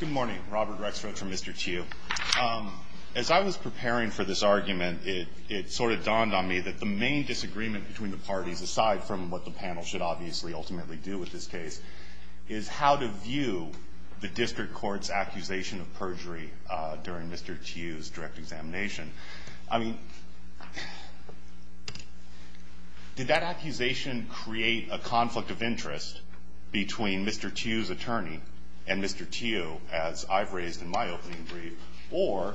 Good morning, Robert Rexford from Mr. Tieu. As I was preparing for this argument, it sort of dawned on me that the main disagreement between the parties, aside from what the panel should obviously ultimately do with this case, is how to view the district court's accusation of perjury during Mr. Tieu's direct examination. I mean, did that accusation create a conflict of interest between Mr. Tieu's attorney and Mr. Tieu, as I've raised in my opening brief, or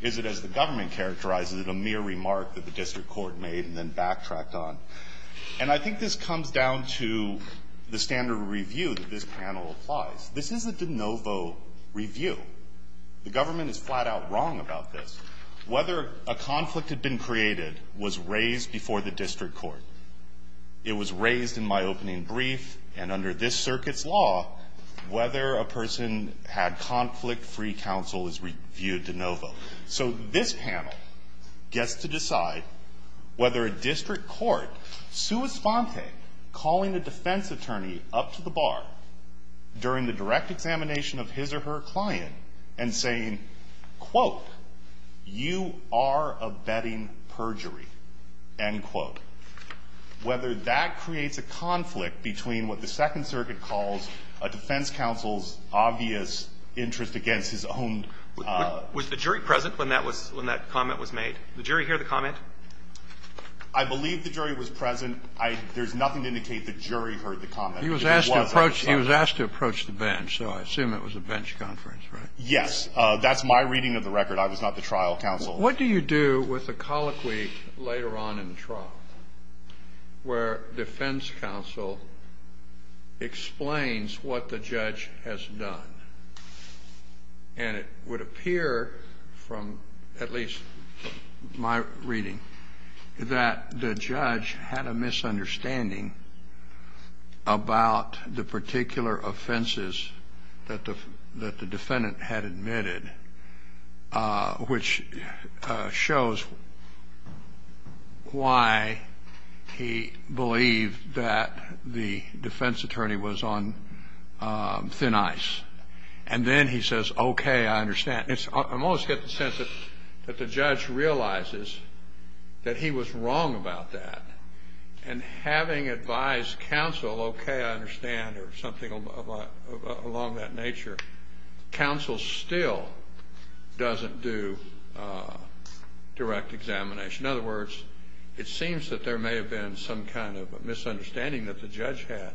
is it, as the government characterizes it, a mere remark that the district court made and then backtracked on? And I think this comes down to the standard of review that this panel applies. This is a de novo review. The government is flat-out wrong about this. Whether a conflict had been created was raised before the district court. It was raised in my opening brief, and under this circuit's law, whether a person had conflict-free counsel is reviewed de novo. So this panel gets to decide whether a district court, sua sponte, calling a defense attorney up to the bar during the direct examination of his or her client and saying, quote, you are abetting perjury, end quote, whether that creates a conflict between what the Second Circuit calls a defense counsel's obvious interest against his own. Was the jury present when that was – when that comment was made? Did the jury hear the comment? I believe the jury was present. There's nothing to indicate the jury heard the comment. He was asked to approach the bench, so I assume it was a bench conference, right? Yes. That's my reading of the record. I was not the trial counsel. What do you do with a colloquy later on in the trial where defense counsel explains what the judge has done? And it would appear from at least my reading that the judge had a misunderstanding about the particular offenses that the defendant had admitted, which shows why he believed that the defense attorney was on thin ice. And then he says, okay, I understand. I always get the sense that the judge realizes that he was wrong about that. And having advised counsel, okay, I understand, or something along that nature, counsel still doesn't do direct examination. In other words, it seems that there may have been some kind of misunderstanding that the judge had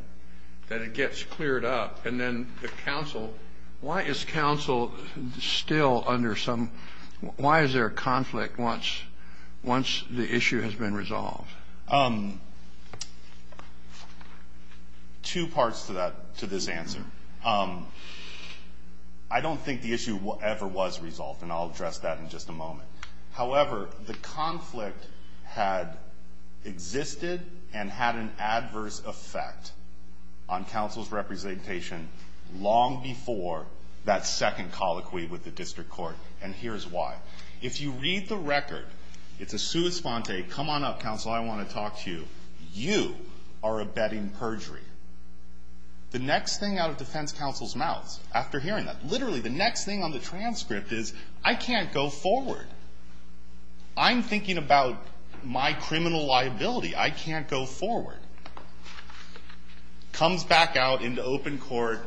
that it gets cleared up. And then the counsel – why is counsel still under some – why is there a conflict once the issue has been resolved? Two parts to this answer. I don't think the issue ever was resolved, and I'll address that in just a moment. However, the conflict had existed and had an adverse effect on counsel's representation long before that second colloquy with the district court, and here's why. If you read the record, it's a sua sponte, come on up, counsel, I want to talk to you. You are abetting perjury. The next thing out of defense counsel's mouth after hearing that, literally the next thing on the transcript is, I can't go forward. I'm thinking about my criminal liability. I can't go forward. Comes back out into open court,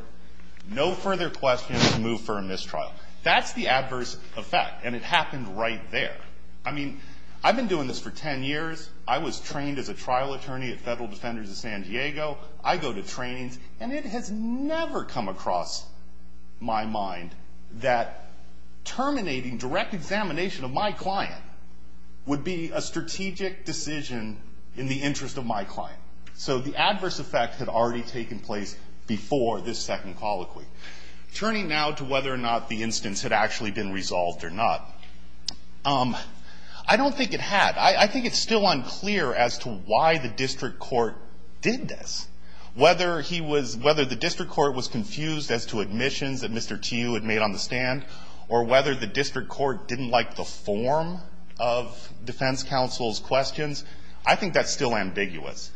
no further questions, move for a mistrial. That's the adverse effect, and it happened right there. I mean, I've been doing this for 10 years. I was trained as a trial attorney at Federal Defenders of San Diego. I go to trainings, and it has never come across my mind that terminating direct examination of my client would be a strategic decision in the interest of my client. So the adverse effect had already taken place before this second colloquy. Turning now to whether or not the instance had actually been resolved or not, I don't think it had. I think it's still unclear as to why the district court did this. Whether he was – whether the district court was confused as to admissions that Mr. Tiu had made on the stand or whether the district court didn't like the form of defense counsel's questions, I think that's still ambiguous.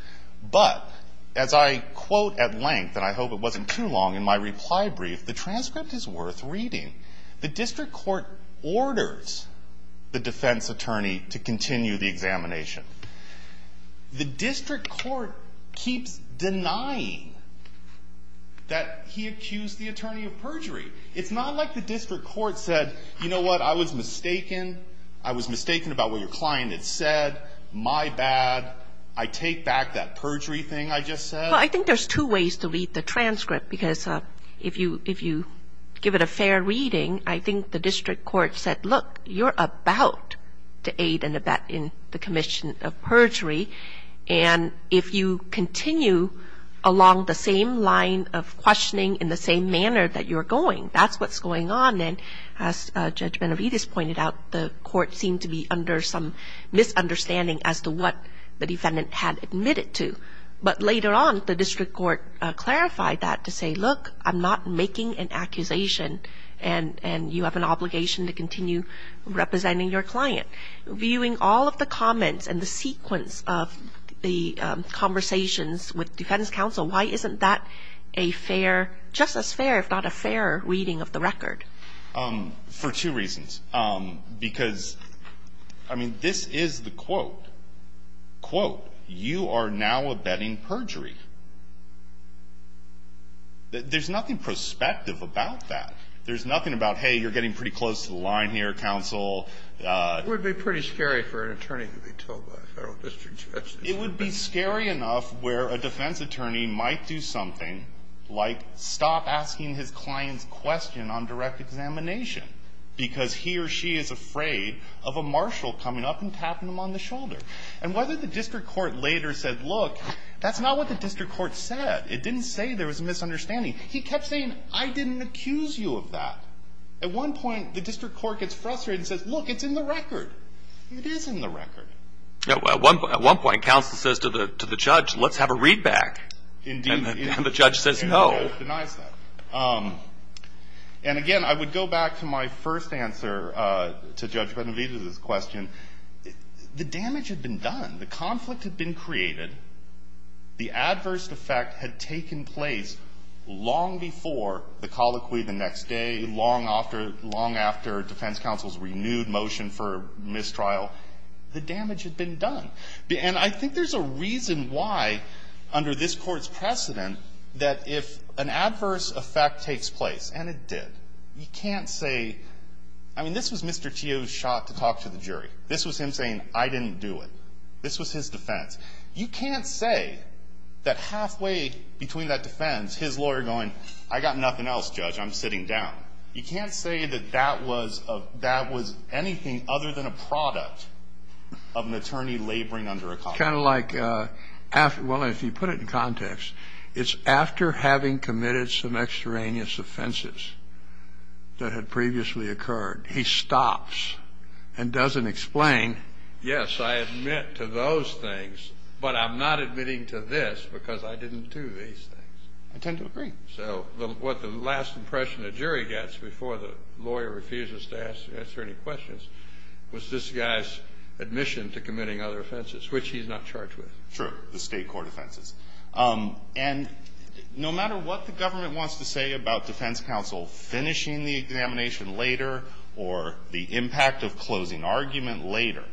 But as I quote at length, and I hope it wasn't too long in my reply brief, the transcript is worth reading. The district court orders the defense attorney to continue the examination. The district court keeps denying that he accused the attorney of perjury. It's not like the district court said, you know what, I was mistaken. I was mistaken about what your client had said. My bad. I take back that perjury thing I just said. Well, I think there's two ways to read the transcript, because if you give it a fair reading, I think the district court said, look, you're about to aid and abet in the commission of perjury, and if you continue along the same line of questioning in the same manner that you're going, that's what's going on. And as Judge Benavides pointed out, the court seemed to be under some misunderstanding as to what the defendant had admitted to. But later on, the district court clarified that to say, look, I'm not making an accusation, and you have an obligation to continue representing your client. Viewing all of the comments and the sequence of the conversations with defense counsel, why isn't that a fair, just as fair, if not a fair reading of the record? For two reasons. Because, I mean, this is the quote. Quote, you are now abetting perjury. There's nothing prospective about that. There's nothing about, hey, you're getting pretty close to the line here, counsel. It would be pretty scary for an attorney to be told by a Federal district judge. It would be scary enough where a defense attorney might do something like stop asking his client's question on direct examination because he or she is afraid of a marshal coming up and tapping him on the shoulder. And whether the district court later said, look, that's not what the district court said. It didn't say there was a misunderstanding. He kept saying, I didn't accuse you of that. At one point, the district court gets frustrated and says, look, it's in the record. It is in the record. At one point, counsel says to the judge, let's have a readback. Indeed. And the judge says no. Denies that. And again, I would go back to my first answer to Judge Benavidez's question. The damage had been done. The conflict had been created. The adverse effect had taken place long before the colloquy the next day, long after defense counsel's renewed motion for mistrial. The damage had been done. And I think there's a reason why, under this Court's precedent, that if an adverse effect takes place, and it did, you can't say, I mean, this was Mr. Teo's shot to talk to the jury. This was him saying, I didn't do it. This was his defense. You can't say that halfway between that defense, his lawyer going, I got nothing else, Judge. I'm sitting down. You can't say that that was anything other than a product of an attorney laboring under a colleague. It's kind of like, well, if you put it in context, it's after having committed some extraneous offenses that had previously occurred. He stops and doesn't explain. Yes, I admit to those things, but I'm not admitting to this because I didn't do these things. I tend to agree. So what the last impression the jury gets before the lawyer refuses to answer any questions was this guy's admission to committing other offenses, which he's not charged with. Sure, the state court offenses. And no matter what the government wants to say about defense counsel finishing the examination later or the impact of closing argument later,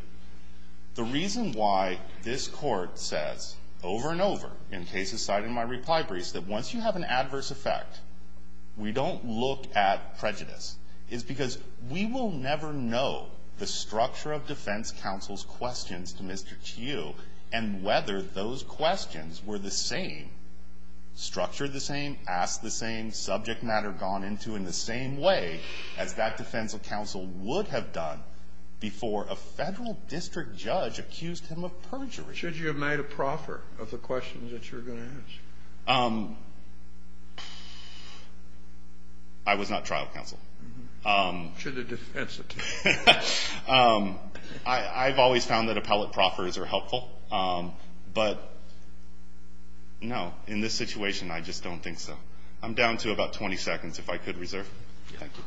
the reason why this we don't look at prejudice is because we will never know the structure of defense counsel's questions to Mr. Chew and whether those questions were the same, structured the same, asked the same, subject matter gone into in the same way as that defense counsel would have done before a Federal district judge accused him of perjury. Should you have made a proffer of the questions that you're going to ask? I was not trial counsel. Should have defense it. I've always found that appellate proffers are helpful, but no, in this situation I just don't think so. I'm down to about 20 seconds if I could reserve. Thank you.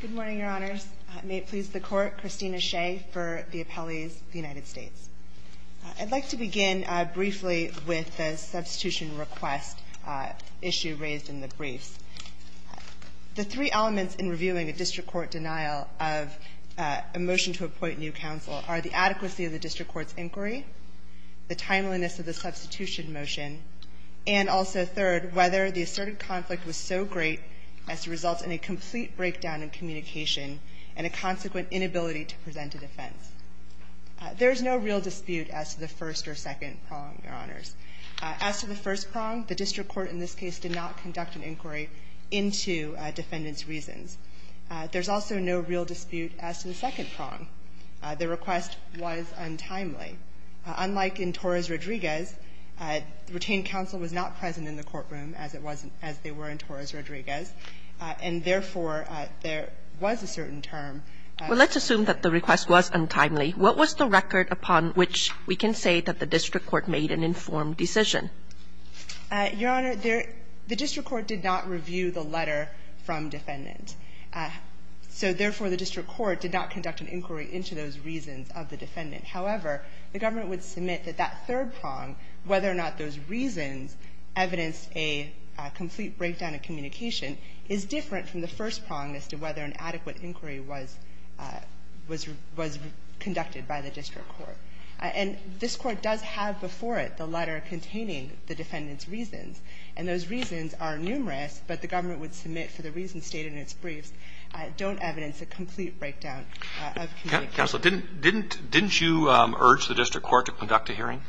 Good morning, Your Honors. May it please the Court. Christina Shea for the appellees of the United States. I'd like to begin briefly with the substitution request issue raised in the briefs. The three elements in reviewing a district court denial of a motion to appoint new counsel are the adequacy of the district court's inquiry, the timeliness of the substitution motion, and also, third, whether the asserted conflict was so great as to result in a complete breakdown in communication and a consequent inability to present a defense. There is no real dispute as to the first or second prong, Your Honors. As to the first prong, the district court in this case did not conduct an inquiry into defendants' reasons. There's also no real dispute as to the second prong. The request was untimely. Unlike in Torres-Rodriguez, retained counsel was not present in the courtroom as it was as they were in Torres-Rodriguez, and therefore, there was a certain term. Well, let's assume that the request was untimely. What was the record upon which we can say that the district court made an informed decision? Your Honor, the district court did not review the letter from defendant. So therefore, the district court did not conduct an inquiry into those reasons of the defendant. However, the government would submit that that third prong, whether or not those reasons evidenced a complete breakdown in communication, is different from the first prong as to whether an adequate inquiry was conducted by the district court. And this Court does have before it the letter containing the defendant's reasons, and those reasons are numerous, but the government would submit for the reasons stated in its briefs don't evidence a complete breakdown of communication. Counsel, didn't you urge the district court to conduct a hearing?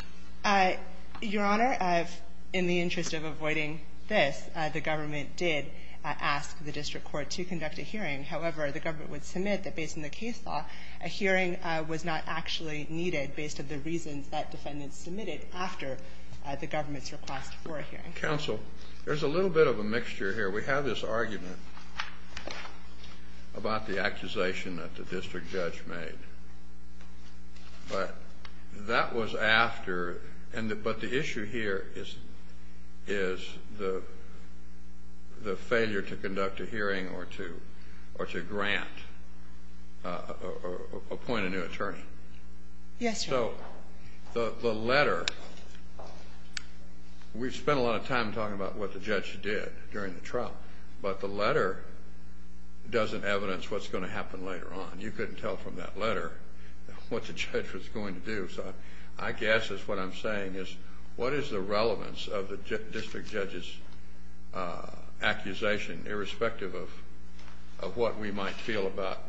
Your Honor, in the interest of avoiding this, the government did ask the district court to conduct a hearing. However, the government would submit that based on the case law, a hearing was not actually needed based on the reasons that defendants submitted after the government's request for a hearing. Counsel, there's a little bit of a mixture here. We have this argument about the accusation that the district judge made. But that was after the issue here is the failure to conduct a hearing or to grant Yes, Your Honor. So the letter, we've spent a lot of time talking about what the judge did during the trial, but the letter doesn't evidence what's going to happen later on. You couldn't tell from that letter what the judge was going to do. So I guess what I'm saying is what is the relevance of the district judge's accusation, irrespective of what we might feel about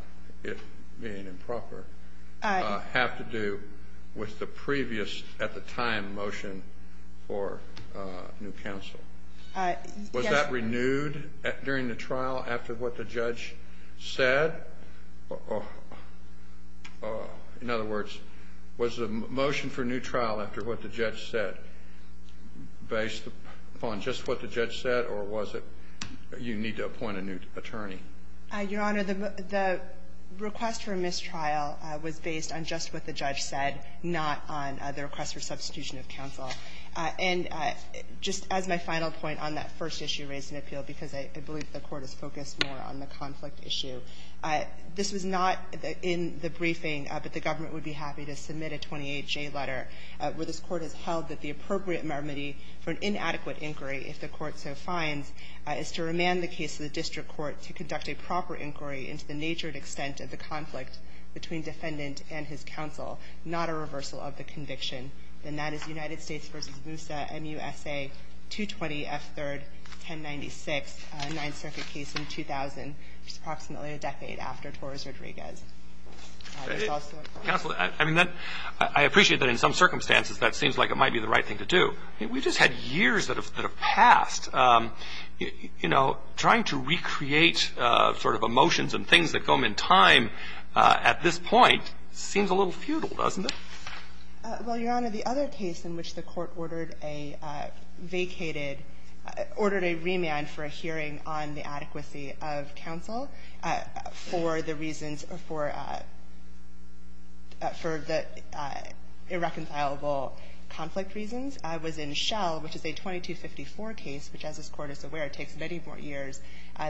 it being improper, have to do with the previous, at the time, motion for new counsel? Was that renewed during the trial after what the judge said? In other words, was the motion for new trial after what the judge said based upon just what the judge said, or was it you need to appoint a new attorney? Your Honor, the request for mistrial was based on just what the judge said. Not on the request for substitution of counsel. And just as my final point on that first issue raised in appeal, because I believe the Court is focused more on the conflict issue, this was not in the briefing, but the government would be happy to submit a 28J letter where this Court has held that the appropriate remedy for an inadequate inquiry, if the Court so finds, is to remand the case to the district court to conduct a proper inquiry into the nature and extent of the conflict between defendant and his counsel, not a reversal of the conviction, then that is United States v. Moussa, M-U-S-A, 220 F. 3rd, 1096, Ninth Circuit case in 2000, which is approximately a decade after Torres-Rodriguez. There's also a question. Counsel, I mean, I appreciate that in some circumstances that seems like it might be the right thing to do. I mean, we've just had years that have passed, you know, trying to recreate sort of emotions and things that come in time at this point seems a little futile, doesn't it? Well, Your Honor, the other case in which the Court ordered a vacated, ordered a remand for a hearing on the adequacy of counsel for the reasons for the irreconcilable conflict reasons was in Schell, which is a 2254 case, which as this Court is aware takes many more years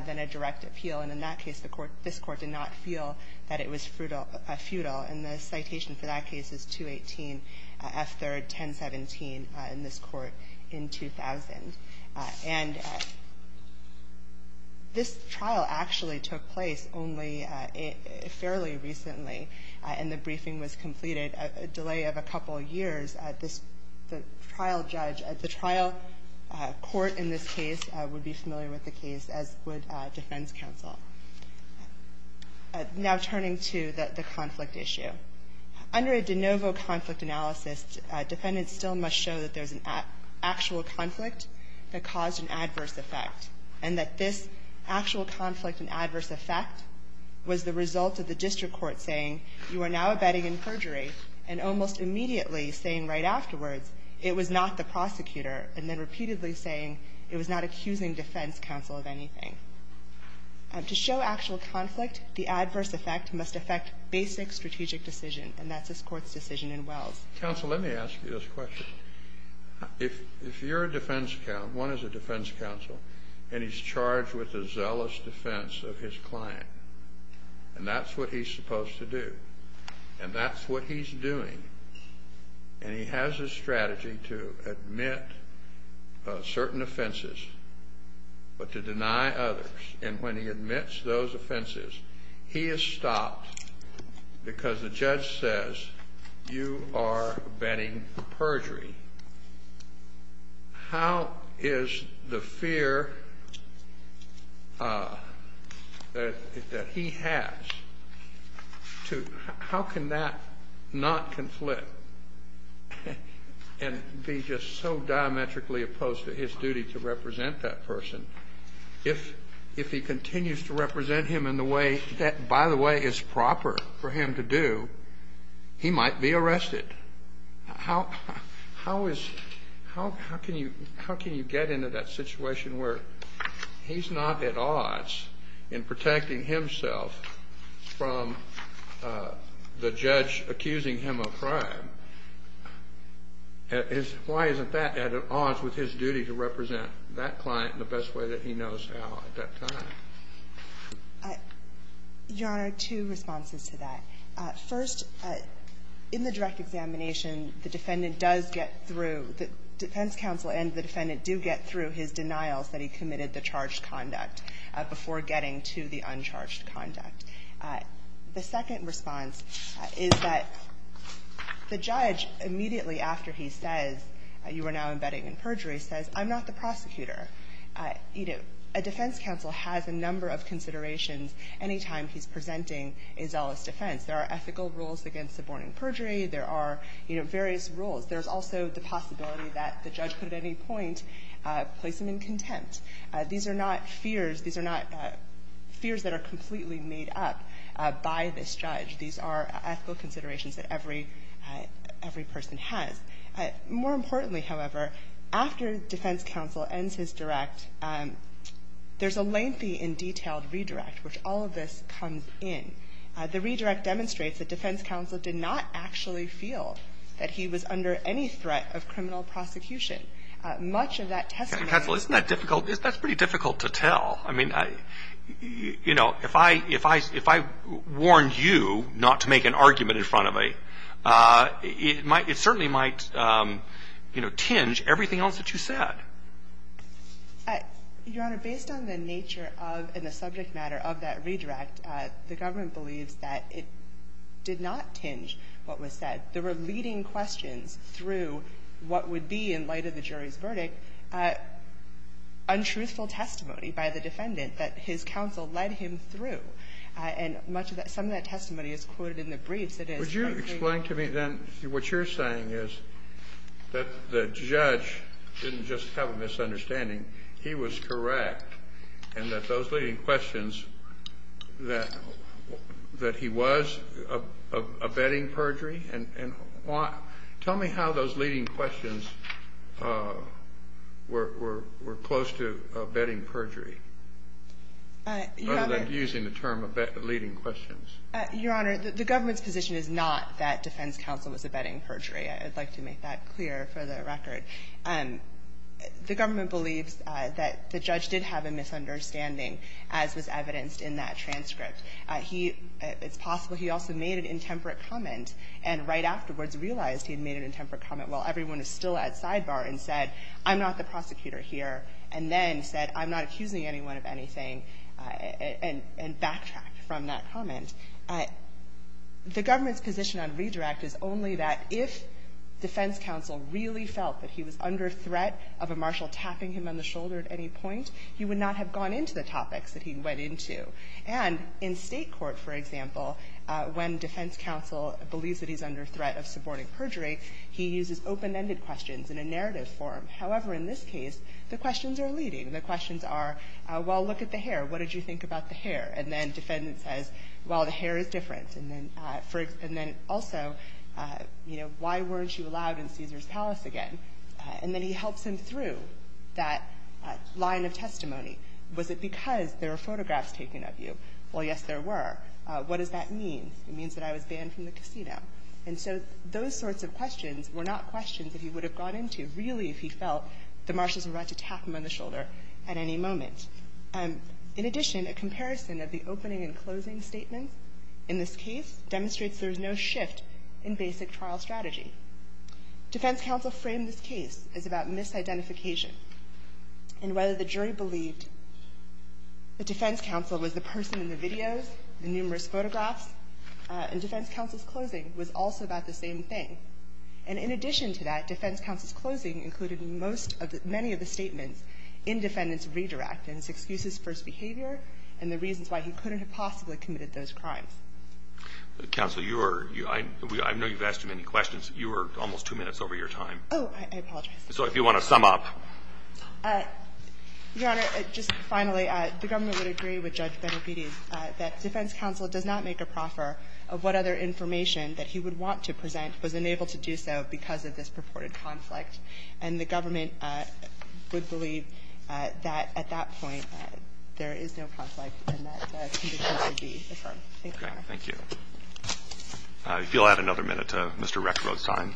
than a direct appeal. And in that case, this Court did not feel that it was futile. And the citation for that case is 218 F. 3rd, 1017 in this Court in 2000. And this trial actually took place only fairly recently, and the briefing was completed a delay of a couple years. The trial judge at the trial court in this case would be familiar with the case, as would defense counsel. Now turning to the conflict issue. Under a de novo conflict analysis, defendants still must show that there's an actual conflict that caused an adverse effect, and that this actual conflict and adverse effect was the result of the district court saying you are now abetting in perjury and almost immediately saying right afterwards it was not the prosecutor, and then repeatedly saying it was not accusing defense counsel of anything. To show actual conflict, the adverse effect must affect basic strategic decision, and that's this Court's decision in Wells. Counsel, let me ask you this question. If you're a defense counsel, one is a defense counsel, and he's charged with the zealous defense of his client, and that's what he's supposed to do, and that's what he's doing, and he has a strategy to admit certain offenses but to deny others. And when he admits those offenses, he is stopped because the judge says you are abetting perjury. How is the fear that he has to how can that not conflict and be just so diametrically opposed to his duty to represent that person if he continues to represent him in the way that, by the way, is proper for him to do, he might be arrested. How is how can you get into that situation where he's not at odds in protecting himself from the judge accusing him of crime? Why isn't that at odds with his duty to represent that client in the best way that he knows how at that time? Your Honor, two responses to that. First, in the direct examination, the defendant does get through, the defense counsel and the defendant do get through his denials that he committed the charged conduct before getting to the uncharged conduct. The second response is that the judge, immediately after he says you are now abetting perjury, says I'm not the prosecutor. You know, a defense counsel has a number of considerations any time he's presenting a zealous defense. There are ethical rules against suborning perjury. There are, you know, various rules. There's also the possibility that the judge could at any point place him in contempt. These are not fears. These are not fears that are completely made up by this judge. These are ethical considerations that every person has. More importantly, however, after defense counsel ends his direct, there's a lengthy and detailed redirect, which all of this comes in. The redirect demonstrates that defense counsel did not actually feel that he was under any threat of criminal prosecution. Much of that testimony was. Counsel, isn't that difficult? That's pretty difficult to tell. I mean, you know, if I warned you not to make an argument in front of me, it certainly might, you know, tinge everything else that you said. Your Honor, based on the nature of and the subject matter of that redirect, the government believes that it did not tinge what was said. There were leading questions through what would be, in light of the jury's verdict, untruthful testimony by the defendant that his counsel led him through. And much of that, some of that testimony is quoted in the briefs. It is something. Kennedy. Would you explain to me then what you're saying is that the judge didn't just have a misunderstanding. He was correct. And that those leading questions, that he was abetting perjury? And why? Tell me how those leading questions were close to abetting perjury. Rather than using the term abet leading questions. Your Honor, the government's position is not that defense counsel was abetting perjury. I'd like to make that clear for the record. The government believes that the judge did have a misunderstanding, as was evidenced in that transcript. He, it's possible he also made an intemperate comment and right afterwards realized he had made an intemperate comment while everyone was still at sidebar and said, I'm not the prosecutor here. And then said, I'm not accusing anyone of anything. And backtracked from that comment. The government's position on redirect is only that if defense counsel really felt that he was under threat of a marshal tapping him on the shoulder at any point, he would not have gone into the topics that he went into. And in state court, for example, when defense counsel believes that he's under threat of suborning perjury, he uses open-ended questions in a narrative form. However, in this case, the questions are leading. The questions are, well, look at the hair. What did you think about the hair? And then defendant says, well, the hair is different. And then also, you know, why weren't you allowed in Caesar's palace again? And then he helps him through that line of testimony. Was it because there were photographs taken of you? Well, yes, there were. What does that mean? It means that I was banned from the casino. And so those sorts of questions were not questions that he would have gone into really if he felt the marshals were about to tap him on the shoulder at any moment. In addition, a comparison of the opening and closing statements in this case demonstrates there is no shift in basic trial strategy. Defense counsel framed this case as about misidentification and whether the jury believed the defense counsel was the person in the videos, the numerous photographs, and defense counsel's closing was also about the same thing. And in addition to that, defense counsel's closing included most of the – many of the defendants' excuses, first behavior, and the reasons why he couldn't have possibly committed those crimes. Counsel, you are – I know you've asked too many questions. You are almost two minutes over your time. Oh, I apologize. So if you want to sum up. Your Honor, just finally, the government would agree with Judge Benedetti that defense counsel does not make a proffer of what other information that he would want to present was unable to do so because of this purported conflict. And the government would believe that at that point there is no conflict and that the conditions would be affirmed. Thank you, Your Honor. Okay. Thank you. If you'll add another minute to Mr. Rexrod's time.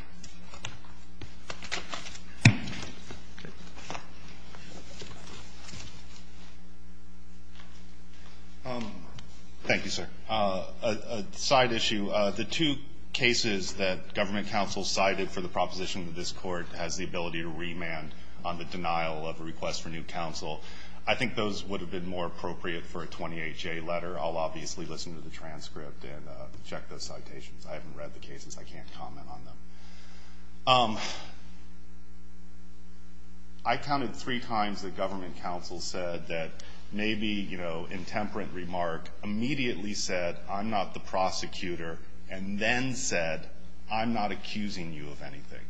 Thank you, sir. A side issue. The two cases that government counsel cited for the proposition that this Court has the ability to remand on the denial of a request for new counsel, I think those would have been more appropriate for a 28-J letter. I'll obviously listen to the transcript and check those citations. I haven't read the cases. I can't comment on them. I counted three times that government counsel said that maybe, you know, intemperate immediately said, I'm not the prosecutor, and then said, I'm not accusing you of anything.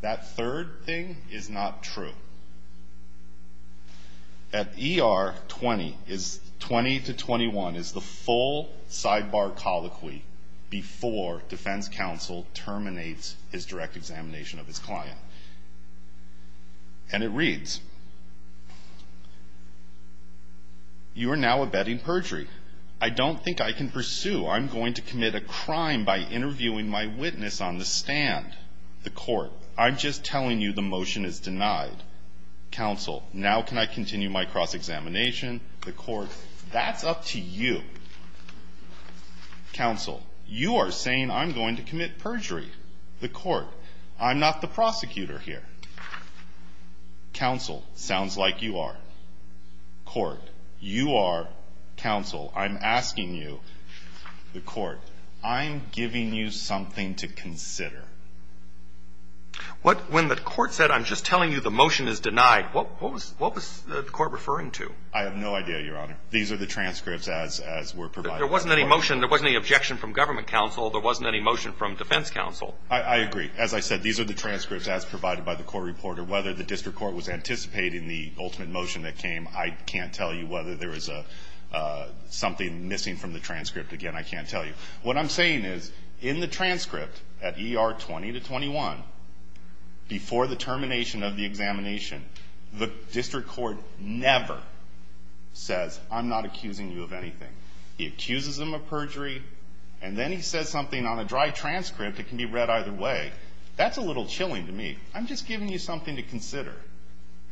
That third thing is not true. At ER, 20 to 21 is the full sidebar colloquy before defense counsel terminates his direct examination of his client. And it reads, you are now abetting perjury. I don't think I can pursue. I'm going to commit a crime by interviewing my witness on the stand. The court, I'm just telling you the motion is denied. Counsel, now can I continue my cross-examination? The court, that's up to you. Counsel, you are saying I'm going to commit perjury. The court, I'm not the prosecutor here. Counsel, sounds like you are. Court, you are counsel. I'm asking you, the court, I'm giving you something to consider. When the court said, I'm just telling you the motion is denied, what was the court referring to? I have no idea, Your Honor. These are the transcripts as were provided. There wasn't any motion. There wasn't any objection from government counsel. There wasn't any motion from defense counsel. I agree. As I said, these are the transcripts as provided by the court reporter. Whether the district court was anticipating the ultimate motion that came, I can't tell you whether there was something missing from the transcript. Again, I can't tell you. What I'm saying is, in the transcript at ER 20 to 21, before the termination of the examination, the district court never says, I'm not accusing you of anything. He accuses him of perjury, and then he says something on a dry transcript that can be read either way. That's a little chilling to me. I'm just giving you something to consider.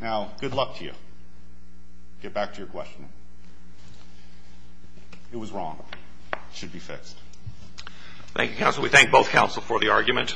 Now, good luck to you. Get back to your question. It was wrong. It should be fixed. Thank you, counsel. We thank both counsel for the argument.